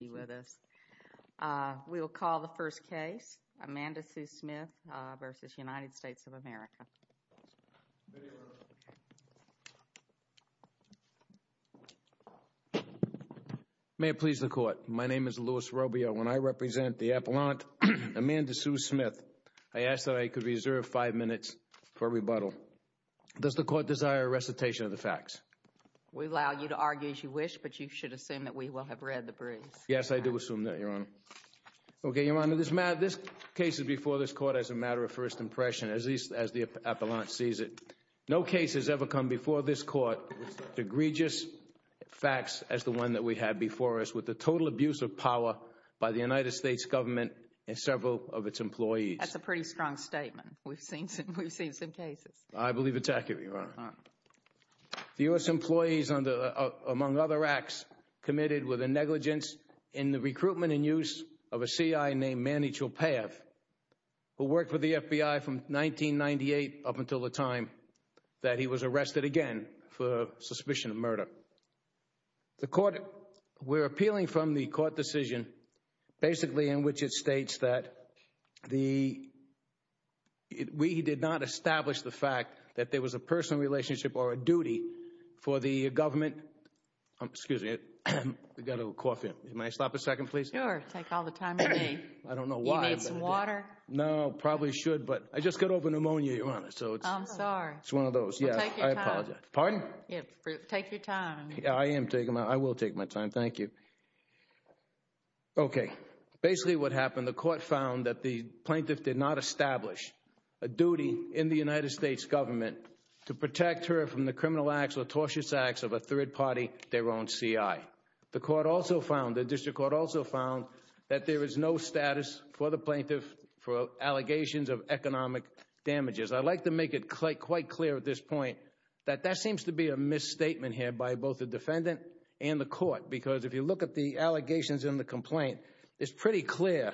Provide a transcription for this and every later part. be with us. We will call the first case, Amanda Sue Smith v. United States of America. May it please the court, my name is Louis Robio and I represent the Appellant Amanda Sue Smith. I ask that I could reserve five minutes for rebuttal. Does the court desire a recitation of the facts? We allow you to argue as you wish but you should assume that we will have read the briefs. Yes, I do assume that, Your Honor. Okay, Your Honor, this case is before this court as a matter of first impression, as the Appellant sees it. No case has ever come before this court with the egregious facts as the one that we had before us, with the total abuse of power by the United States government and several of its employees. That's a pretty strong statement. We've seen some cases. I believe it's accurate, Your Honor. The U.S. employees, among other acts, committed with a negligence in the recruitment and use of a C.I. named Manny Chopaev who worked with the FBI from 1998 up until the time that he was arrested again for suspicion of murder. The court, we're appealing from the court decision basically in which it states that we did not establish the fact that there was a personal relationship or a duty for the government. Excuse me, I've got a little cough in me. May I stop a second, please? Sure, take all the time you need. I don't know why. Do you need some water? No, probably should, but I just got over pneumonia, Your Honor. I'm sorry. It's one of those. Take your time. Pardon? Take your time. I am taking my time. I will take my time. Thank you. Okay, basically what happened, the court found that the plaintiff did not establish a duty in the United States government to protect her from the criminal acts or tortious acts of a third party, their own C.I. The court also found, the district court also found, that there is no status for the plaintiff for allegations of economic damages. I'd like to make it quite clear at this point that that seems to be a misstatement here by both the defendant and the court because if you look at the allegations in the complaint, it's pretty clear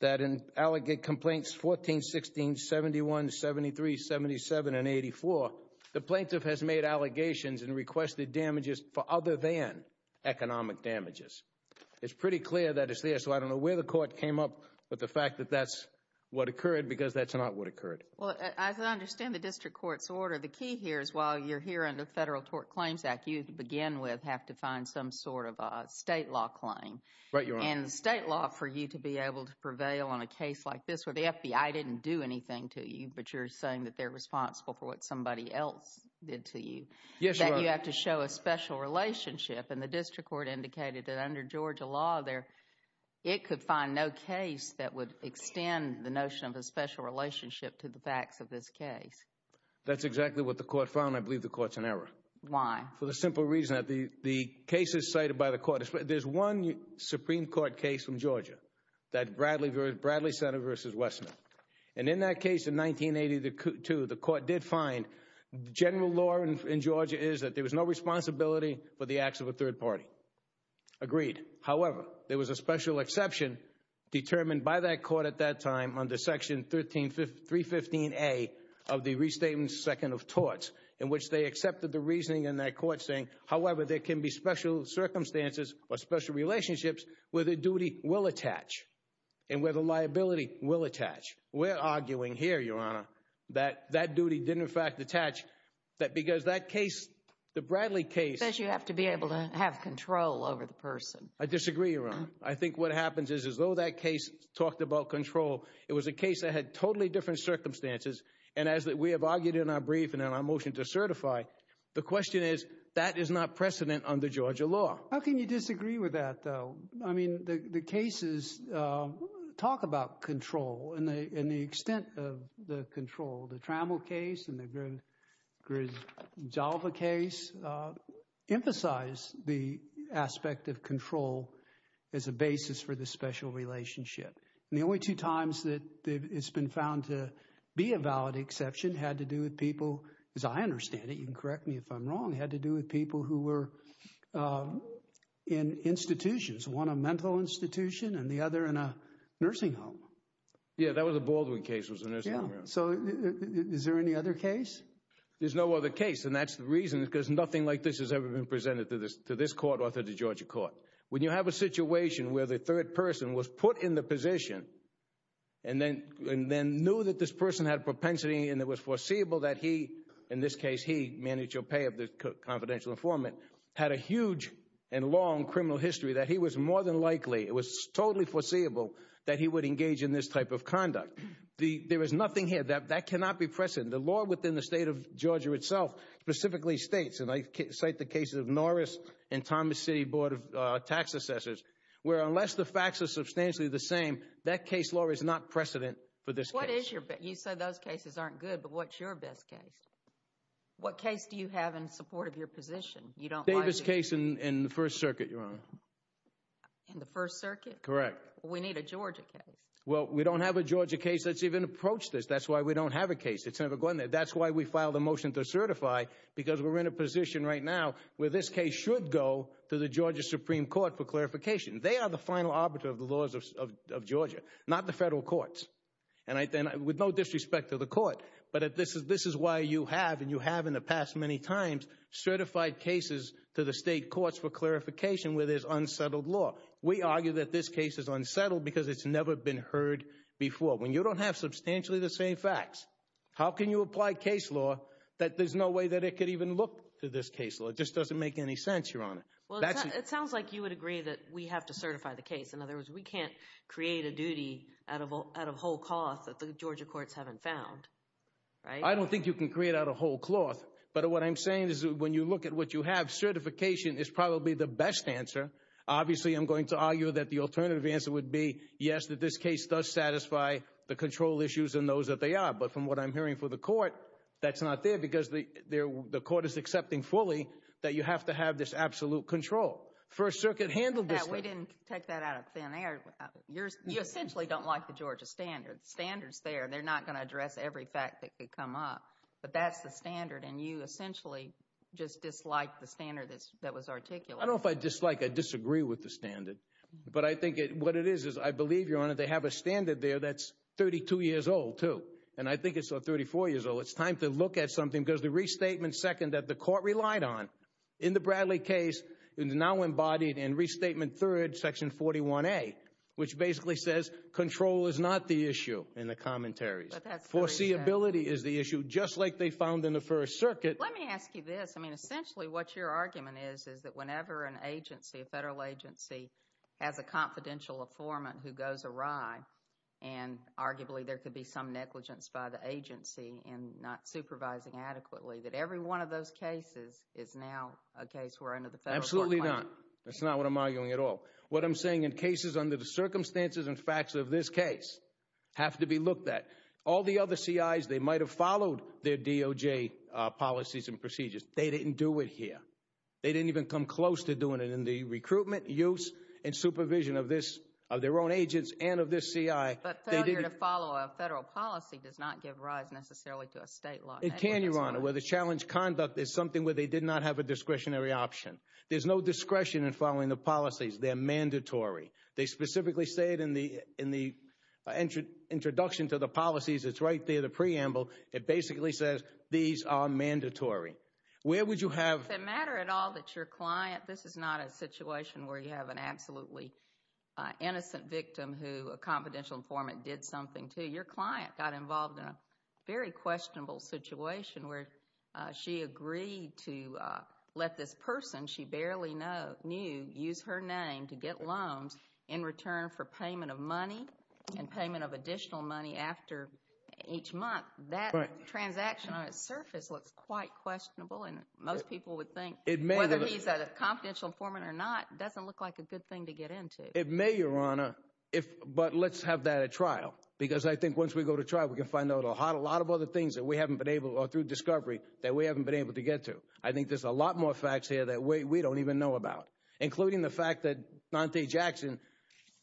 that in allegate complaints 14, 16, 71, 73, 77, and 84, the plaintiff has made allegations and requested damages for other than economic damages. It's pretty clear that it's there, so I don't know where the court came up with the fact that that's what occurred because that's not what occurred. Well, as I understand the district court's order, the key here is while you're here under the Federal Tort Claims Act, you, to begin with, have to find some sort of a state law claim. Right, Your Honor. And state law for you to be able to prevail on a case like this where the FBI didn't do anything to you, but you're saying that they're responsible for what somebody else did to you. Yes, Your Honor. That you have to show a special relationship, and the district court indicated that under Georgia law, it could find no case that would extend the notion of a special relationship to the facts of this case. That's exactly what the court found. I believe the court's in error. Why? For the simple reason that the cases cited by the court, there's one Supreme Court case from Georgia, that Bradley Center v. Westman, and in that case in 1982, the court did find general law in Georgia is that there was no responsibility for the acts of a third party. Agreed. However, there was a special exception determined by that court at that time under Section 315A of the Restatement Second of which they accepted the reasoning in that court saying, however, there can be special circumstances or special relationships where the duty will attach and where the liability will attach. We're arguing here, Your Honor, that that duty didn't, in fact, attach. That because that case, the Bradley case. You have to be able to have control over the person. I disagree, Your Honor. I think what happens is as though that case talked about control, it was a case that had totally different circumstances. And as we have argued in our brief and in our motion to certify, the question is, that is not precedent under Georgia law. How can you disagree with that, though? I mean, the cases talk about control and the extent of the control. The Trammell case and the Grisdalva case emphasize the aspect of control as a basis for the special relationship. And the only two times that it's been found to be a valid exception had to do with people, as I understand it, you can correct me if I'm wrong, had to do with people who were in institutions, one a mental institution and the other in a nursing home. Yeah, that was a Baldwin case was a nursing home. Yeah. So is there any other case? There's no other case. And that's the reason because nothing like this has ever been presented to this court or to the Georgia court. When you have a situation where the third person was put in the position and then knew that this person had a propensity and it was foreseeable that he, in this case, he, Manny Tropea, the confidential informant, had a huge and long criminal history that he was more than likely, it was totally foreseeable that he would engage in this type of conduct. There is nothing here. That cannot be precedent. The law within the state of Georgia itself specifically states, and I cite the cases of Norris and Thomas City Board of Tax Assessors, where unless the facts are those cases aren't good. But what's your best case? What case do you have in support of your position? You don't like this case in the First Circuit. You're in the First Circuit. Correct. We need a Georgia case. Well, we don't have a Georgia case that's even approached this. That's why we don't have a case. It's never going there. That's why we filed a motion to certify, because we're in a position right now where this case should go to the Georgia Supreme Court for clarification. They are the final arbiter of the laws of Georgia, not the federal courts. And with no disrespect to the court, but this is why you have, and you have in the past many times, certified cases to the state courts for clarification where there's unsettled law. We argue that this case is unsettled because it's never been heard before. When you don't have substantially the same facts, how can you apply case law that there's no way that it could even look to this case law? It just doesn't make any sense, Your Honor. Well, it sounds like you would agree that we have to certify the case. In other words, we can't create a duty out of whole cloth that the Georgia courts haven't found, right? I don't think you can create out of whole cloth. But what I'm saying is when you look at what you have, certification is probably the best answer. Obviously, I'm going to argue that the alternative answer would be, yes, that this case does satisfy the control issues and those that they are. But from what I'm hearing for the court, that's not there because the court is accepting fully that you have to have this absolute control. First Circuit handled this thing. We didn't take that out of thin air. You essentially don't like the Georgia standards there. They're not going to address every fact that could come up. But that's the standard. And you essentially just disliked the standard that was articulated. I don't know if I dislike or disagree with the standard. But I think what it is, is I believe, Your Honor, they have a standard there that's 32 years old, too. And I think it's 34 years old. It's time to look at something because the restatement second that the court relied on in the Bradley case is now embodied in restatement third, section 41A, which basically says control is not the issue in the commentaries. Foreseeability is the issue, just like they found in the First Circuit. Let me ask you this. I mean, essentially, what your argument is, is that whenever an agency, a federal agency, has a confidential informant who goes awry, and arguably there could be some negligence by the agency in not supervising adequately, that every one of those cases is now a case where under the federal court plan. Absolutely not. That's not what I'm arguing at all. What I'm saying in cases under the circumstances and facts of this case have to be looked at. All the other CIs, they might have followed their DOJ policies and procedures. They didn't do it here. They didn't even come close to doing it in the recruitment, use, and supervision of this, of their own agents and of this CI. But failure to follow a federal policy does not give rise necessarily to a state law. It can, Your Honor, where the challenge conduct is something where they did not have a discretionary option. There's no discretion in following the policies. They're mandatory. They specifically say it in the introduction to the policies. It's right there, the preamble. It basically says these are mandatory. Where would you have... Does it matter at all that your client, this is not a situation where you have an absolutely innocent victim who a confidential informant did something to. Your client got involved in a very questionable situation where she agreed to let this person she barely knew use her name to get loans in return for payment of money and payment of additional money after each month. That transaction on its surface looks quite questionable and most people would think whether he's a confidential informant or not, it doesn't look like a good thing to get into. It may, Your Honor, but let's have that at trial because I think once we go to trial we can find out a lot of other things that we haven't been able to, or through discovery, that we haven't been able to get to. I think there's a lot more facts here that we don't even know about, including the fact that Nante Jackson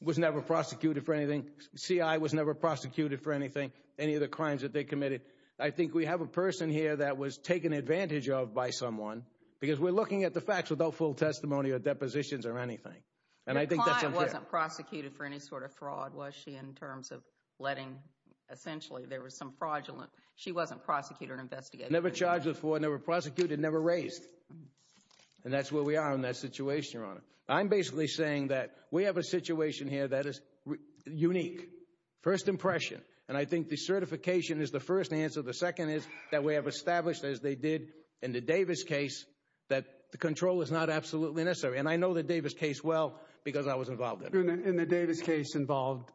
was never prosecuted for anything, CI was never prosecuted for anything, any of the crimes that they committed. I think we have a person here that was taken advantage of by someone because we're looking at the Client wasn't prosecuted for any sort of fraud, was she, in terms of letting, essentially there was some fraudulent, she wasn't prosecuted or investigated. Never charged with fraud, never prosecuted, never raised. And that's where we are in that situation, Your Honor. I'm basically saying that we have a situation here that is unique. First impression. And I think the certification is the first answer. The second is that we have established, as they did in the Davis case, that the control is not absolutely necessary. And I know the Davis case well, because I was involved in it. And the Davis case involved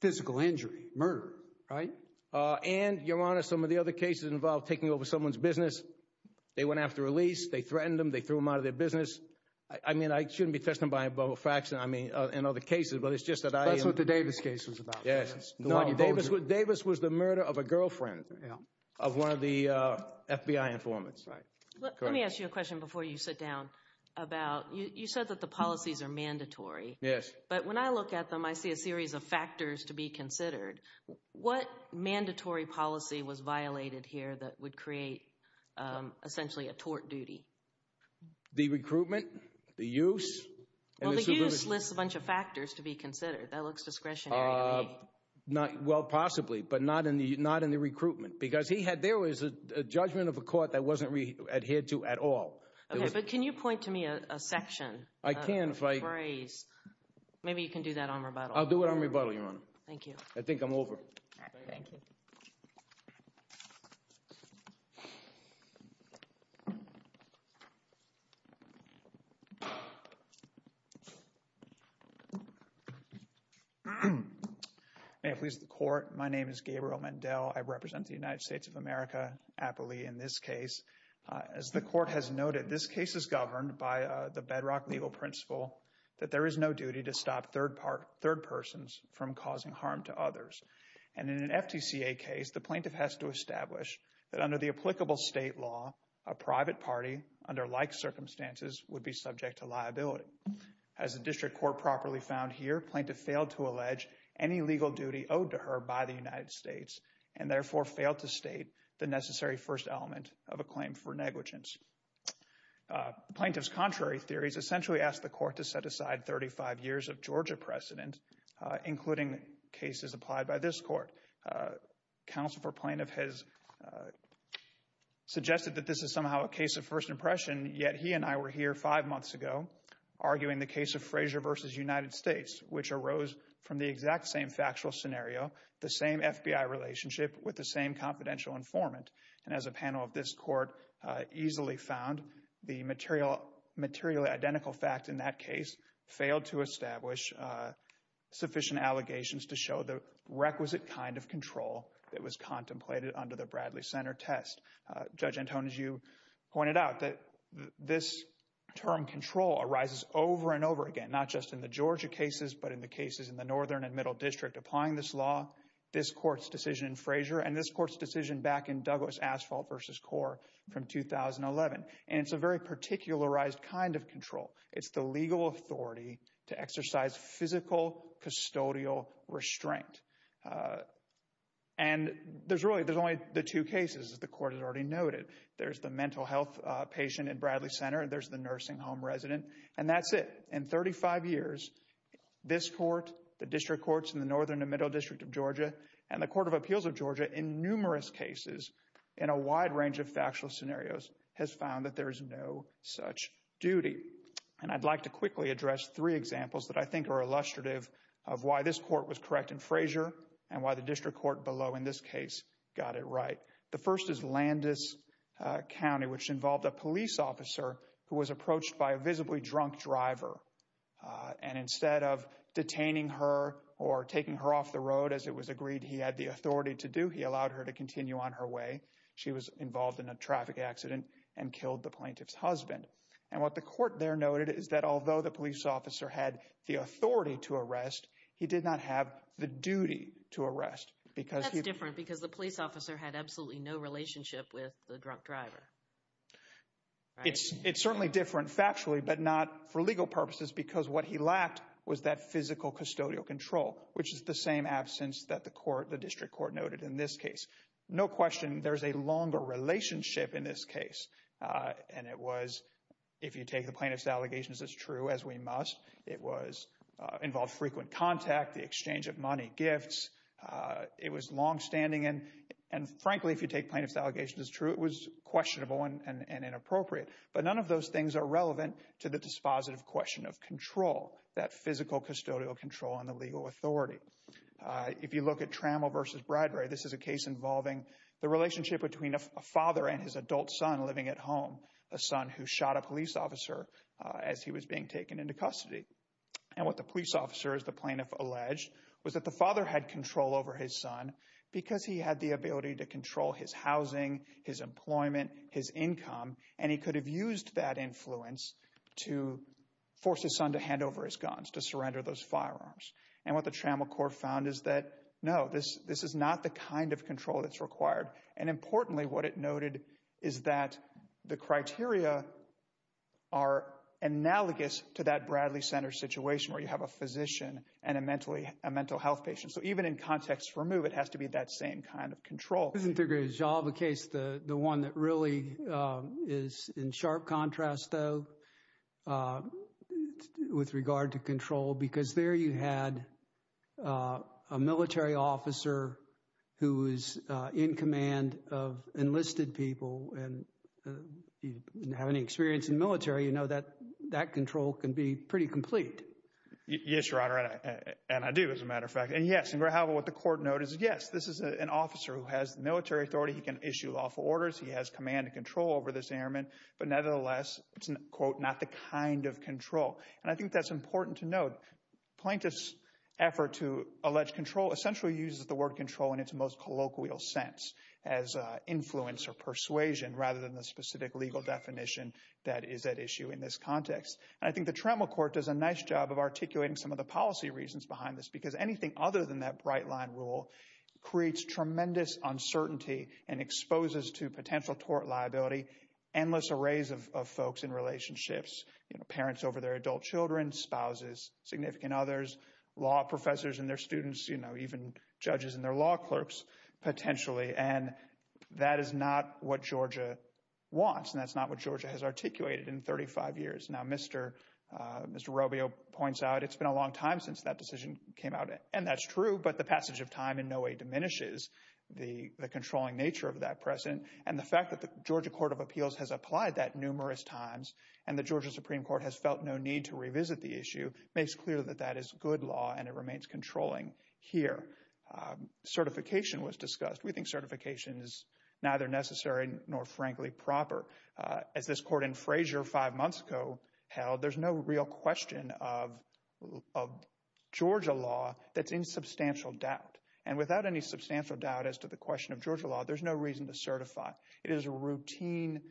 physical injury, murder, right? And Your Honor, some of the other cases involved taking over someone's business. They went after a lease, they threatened them, they threw them out of their business. I mean, I shouldn't be testing by a bubble fraction, I mean, in other cases, but it's just that I am- That's what the Davis case was about. Yes. The one you voted for. No, Davis was the murder of a girlfriend of one of the FBI informants. Let me ask you a question before you sit down about, you said that the policies are mandatory. Yes. But when I look at them, I see a series of factors to be considered. What mandatory policy was violated here that would create, essentially, a tort duty? The recruitment, the use, and the subpoena- Well, the use lists a bunch of factors to be considered. That looks discretionary to me. Well, possibly, but not in the recruitment. Because there was a judgment of a court that wasn't adhered to at all. Okay, but can you point to me a section? I can, if I- A phrase. Maybe you can do that on rebuttal. I'll do it on rebuttal, Your Honor. Thank you. I think I'm over. Thank you. May it please the Court. My name is Gabriel Mendel. I represent the United States of America in Appalachia. In this case, as the Court has noted, this case is governed by the bedrock legal principle that there is no duty to stop third persons from causing harm to others. And in an FTCA case, the plaintiff has to establish that under the applicable state law, a private party under like circumstances would be subject to liability. As the district court properly found here, plaintiff failed to allege any legal duty owed to her by the United States, and therefore failed to state the necessary first element of a claim for negligence. The plaintiff's contrary theories essentially asked the Court to set aside 35 years of Georgia precedent, including cases applied by this Court. Counsel for plaintiff has suggested that this is somehow a case of first impression, yet he and I were here five months ago arguing the case of Frazier v. United States, which arose from the exact same factual scenario, the same FBI relationship with the same confidential informant. And as a panel of this Court easily found, the materially identical fact in that case failed to establish sufficient allegations to show the requisite kind of control that was contemplated under the Bradley Center test. Judge Antonin, as you pointed out, this term control arises over and over again, not just in the Georgia cases, but in the cases in the northern and central district applying this law, this Court's decision in Frazier, and this Court's decision back in Douglas Asphalt v. Core from 2011. And it's a very particularized kind of control. It's the legal authority to exercise physical custodial restraint. And there's really, there's only the two cases that the Court has already noted. There's the mental health patient in Bradley Center, there's the nursing home resident, and that's it. In 35 years, this Court, the district courts in the northern and middle district of Georgia, and the Court of Appeals of Georgia, in numerous cases, in a wide range of factual scenarios, has found that there is no such duty. And I'd like to quickly address three examples that I think are illustrative of why this Court was correct in Frazier and why the district court below in this case got it right. The first is Landis County, which involved a police officer who was approached by a visibly drunk driver. And instead of detaining her or taking her off the road, as it was agreed he had the authority to do, he allowed her to continue on her way. She was involved in a traffic accident and killed the plaintiff's husband. And what the court there noted is that although the police officer had the authority to arrest, he did not have the duty to arrest. That's different because the police officer had absolutely no relationship with the drunk driver. It's certainly different factually, but not for legal purposes, because what he lacked was that physical custodial control, which is the same absence that the district court noted in this case. No question, there's a longer relationship in this case. And it was, if you take the plaintiff's allegations as true as we must, it involved frequent contact, the exchange of money, gifts. It was longstanding. And frankly, if you take plaintiff's allegations as true, it was questionable and inappropriate. But none of those things are relevant to the dispositive question of control, that physical custodial control on the legal authority. If you look at Trammell v. Bradbury, this is a case involving the relationship between a father and his adult son living at home, a son who shot a police officer as he was being taken into custody. And what the police officer, as the plaintiff alleged, was that the father had control over his son because he had the ability to control his housing, his employment, his income, and he could have used that influence to force his son to hand over his guns, to surrender those firearms. And what the Trammell court found is that, no, this is not the kind of control that's required. And importantly, what it noted is that the criteria are analogous to that Bradley Center situation where you have a physician and a mental health patient. So even in context for MOVE, it has to be that same kind of control. I disagree. I'll have a case, the one that really is in sharp contrast, though, with regard to control, because there you had a military officer who was in command of enlisted people and didn't have any experience in the military. You know that that control can be pretty complete. Yes, Your Honor. And I do, as a matter of fact. And yes, however, what the court noted is, yes, this is an officer who has military authority. He can issue lawful orders. He has command and control over this airman. But nevertheless, it's, quote, not the kind of control. And I think that's important to note. Plaintiff's effort to allege control essentially uses the word control in its most colloquial sense as influence or persuasion rather than the specific legal definition that is at issue in this context. And I think the Trammell court does a nice job of articulating some of the policy reasons behind this, because anything other than that bright line rule creates tremendous uncertainty and exposes to potential tort liability, endless arrays of folks in relationships, parents over their adult children, spouses, significant others, law professors and their students, you know, even judges and their law clerks, potentially. And that is not what Georgia wants. And that's not what Georgia has articulated in 35 years. Now, Mr. Mr. Robio points out it's been a long time since that decision came out. And that's true. But the passage of time in no way diminishes the controlling nature of that precedent. And the fact that the Georgia Court of Appeals has applied that numerous times and the Georgia Supreme Court has felt no need to revisit the issue makes clear that that is good law and it remains controlling here. Certification was discussed. We think certification is neither necessary nor frankly proper. As this court in Frazier five months ago held, there's no real question of Georgia law that's in substantial doubt. And without any substantial doubt as to the question of Georgia law, there's no reason to certify. It is a routine,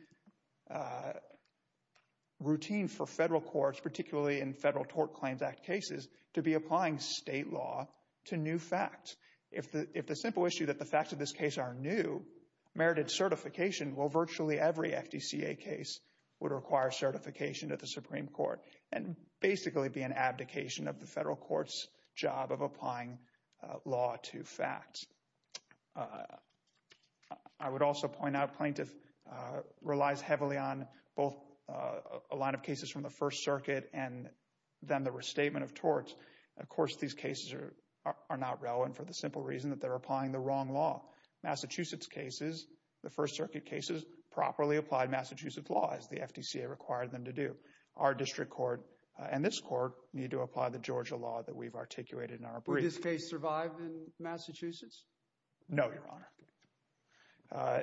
routine for federal courts, particularly in Federal Tort Claims Act cases, to be applying state law to new facts. If the if the simple issue that the facts of this case are new, merited certification will virtually every FDCA case would require certification at the Supreme Court and basically be an abdication of the federal court's job of applying law to facts. I would also point out plaintiff relies heavily on both a line of cases from the First Circuit and then the restatement of torts. Of course, these cases are not relevant for the simple reason that they're applying the wrong law. Massachusetts cases, the First Circuit cases, properly applied Massachusetts law as the FDCA required them to do. Our district court and this court need to apply the Georgia law that we've articulated in our brief. Would this case survive in Massachusetts? No, Your Honor.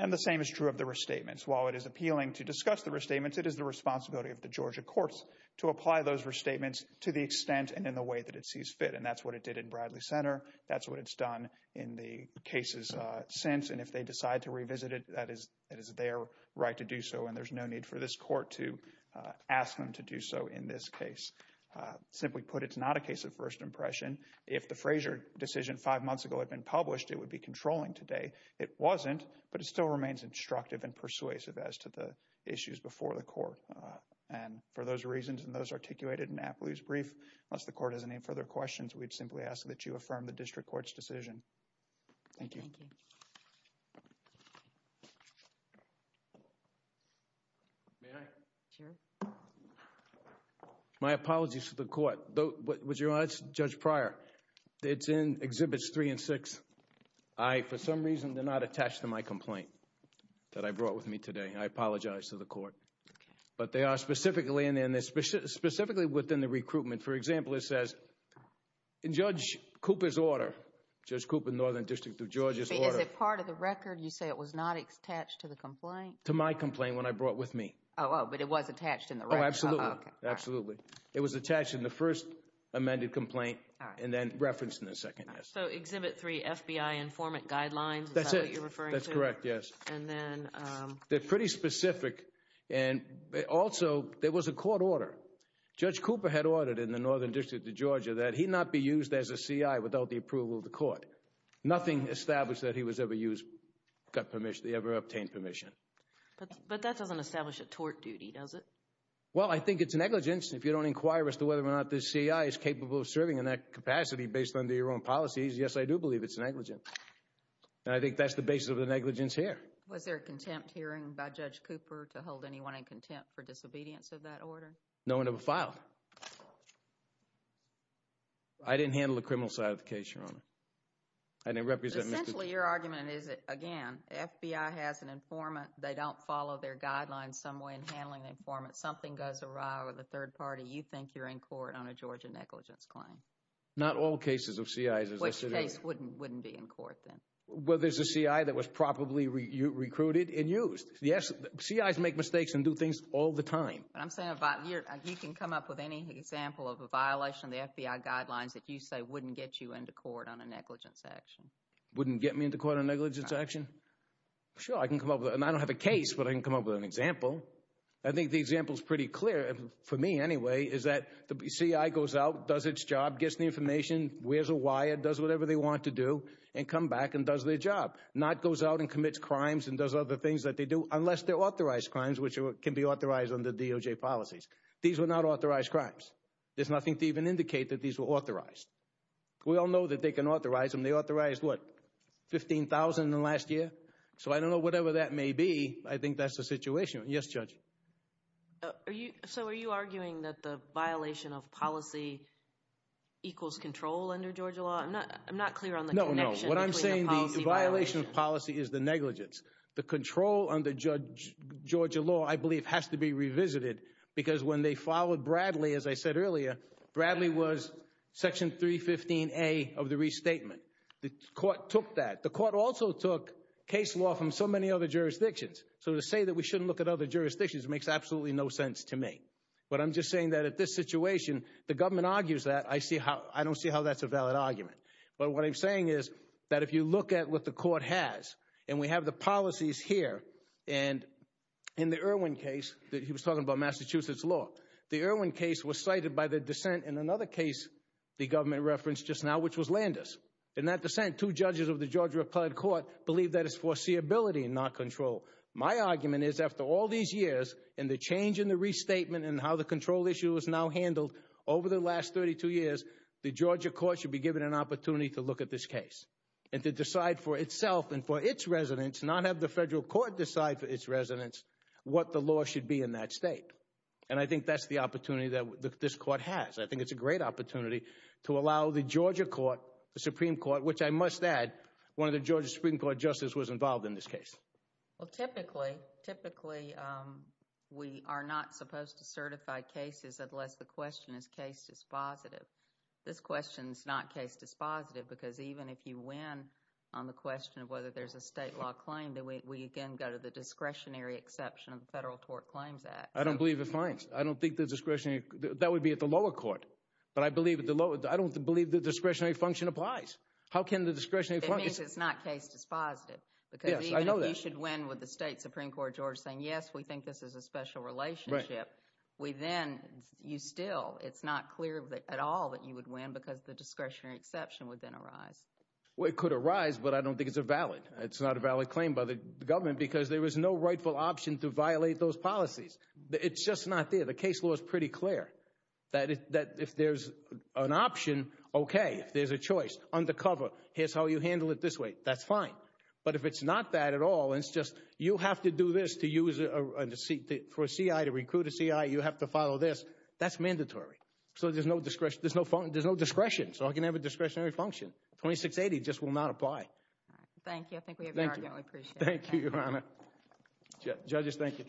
And the same is true of the restatements. While it is appealing to discuss the restatements, it is the responsibility of the Georgia courts to apply those restatements to the extent and in the way that it sees fit. And that's what it did in Bradley Center. That's what it's done in the cases since. And if they decide to revisit it, that is that is their right to do so. And there's no need for this court to ask them to do so in this case. Simply put, it's not a case of first impression. If the Frazier decision five months ago had been published, it would be controlling today. It wasn't. But it still remains instructive and persuasive as to the issues before the court. And for those reasons and those articulated in Apley's brief, unless the court has any further questions, we'd simply ask that you affirm the district court's decision. Thank you. May I? Sure. My apologies to the court. But was Your Honor, it's Judge Pryor. It's in Exhibits 3 and 6. I, for some reason, they're not attached to my complaint that I brought with me today. I apologize to the court. But they are specifically in there. And they're specifically within the recruitment. For example, it says in Judge Cooper's order, Judge Cooper, Northern District of Georgia's order. Is it part of the record? You say it was not attached to the complaint? To my complaint when I brought with me. Oh, but it was attached in the record. Oh, absolutely. Absolutely. It was attached in the first amended complaint and then referenced in the second. So, Exhibit 3, FBI informant guidelines, is that what you're referring to? That's it. That's correct, yes. And then... They're pretty specific. And also, there was a court order. Judge Cooper had ordered in the Northern District of Georgia that he not be used as a CI without the approval of the court. Nothing established that he was ever used, got permission, ever obtained permission. But that doesn't establish a tort duty, does it? Well, I think it's negligence if you don't inquire as to whether or not this CI is capable of serving in that capacity based on their own policies. Yes, I do believe it's negligence. And I think that's the basis of the negligence here. Was there a contempt hearing by Judge Cooper to hold anyone in contempt for disobedience of that order? No one ever filed. I didn't handle the criminal side of the case, Your Honor. Essentially, your argument is that, again, FBI has an informant. They don't follow their guidelines some way in handling an informant. Something goes awry with a third party. You think you're in court on a Georgia negligence claim? Not all cases of CIs. Which case wouldn't be in court, then? Well, there's a CI that was properly recruited and used. Yes, CIs make mistakes and do things all the time. I'm saying you can come up with any example of a violation of the FBI guidelines that you say wouldn't get you into court on a negligence action. Wouldn't get me into court on a negligence action? Sure, I can come up with it. And I don't have a case, but I can come up with an example. I think the example is pretty clear, for me anyway, is that the CI goes out, does its job, gets the information, wears a wire, does whatever they want to do, and come back and does their job. Not goes out and commits crimes and does other things that they do, unless they're authorized crimes, which can be authorized under DOJ policies. These were not authorized crimes. There's nothing to even indicate that these were authorized. We all know that they can authorize them. They authorized, what, 15,000 in the last year? So I don't know, whatever that may be, I think that's the situation. Yes, Judge? So are you arguing that the violation of policy equals control under Georgia law? I'm not clear on the connection between the policy violation. No, no. What I'm saying, the violation of policy is the negligence. The control under Georgia law, I believe, has to be revisited, because when they followed Bradley, as I said earlier, Bradley was Section 315A of the restatement. The court took that. The court also took case law from so many other jurisdictions. So to say that we shouldn't look at other jurisdictions makes absolutely no sense to me. But I'm just saying that at this situation, the government argues that. I see how, I don't see how that's a valid argument. But what I'm saying is that if you look at what the court has, and we have the policies here, and in the Irwin case, he was talking about Massachusetts law, the Irwin case was cited by the dissent in another case the government referenced just now, which was Landers. In that dissent, two judges of the Georgia Applied Court believe that it's foreseeability, not control. My argument is, after all these years, and the change in the restatement, and how the control issue is now handled, over the last 32 years, the Georgia court should be given an opportunity to look at this case, and to decide for itself and for its residents, not have the federal court decide for its residents, what the law should be in that state. And I think that's the opportunity that this court has. I think it's a great opportunity to allow the Georgia court, the Supreme Court, which I must add, one of the Georgia Supreme Court justices was involved in this case. Well, typically, typically, we are not supposed to certify cases unless the question is case dispositive. This question is not case dispositive, because even if you win on the question of whether there's a state law claim, then we again go to the discretionary exception of the Federal Tort Claims Act. I don't believe it finds. I don't think the discretionary, that would be at the lower court. But I believe at the lower, I don't believe the discretionary function applies. How can the discretionary function? It means it's not case dispositive. Yes, I know that. Because even if you should win with the state Supreme Court of Georgia saying, yes, we think this is a special relationship, we then, you still, it's not clear at all that you would win because the discretionary exception would then arise. Well, it could arise, but I don't think it's a valid, it's not a valid claim by the government because there was no rightful option to violate those policies. It's just not there. The case law is pretty clear that if there's an option, okay, if there's a choice, undercover, here's how you handle it this way, that's fine. But if it's not that at all, it's just, you have to do this to use, for a CI to recruit a CI, you have to follow this. That's mandatory. So there's no discretion, there's no discretion, so I can have a discretionary function. 2680 just will not apply. Thank you. I think we have your argument. We appreciate it. Thank you, Your Honor. Judges, thank you.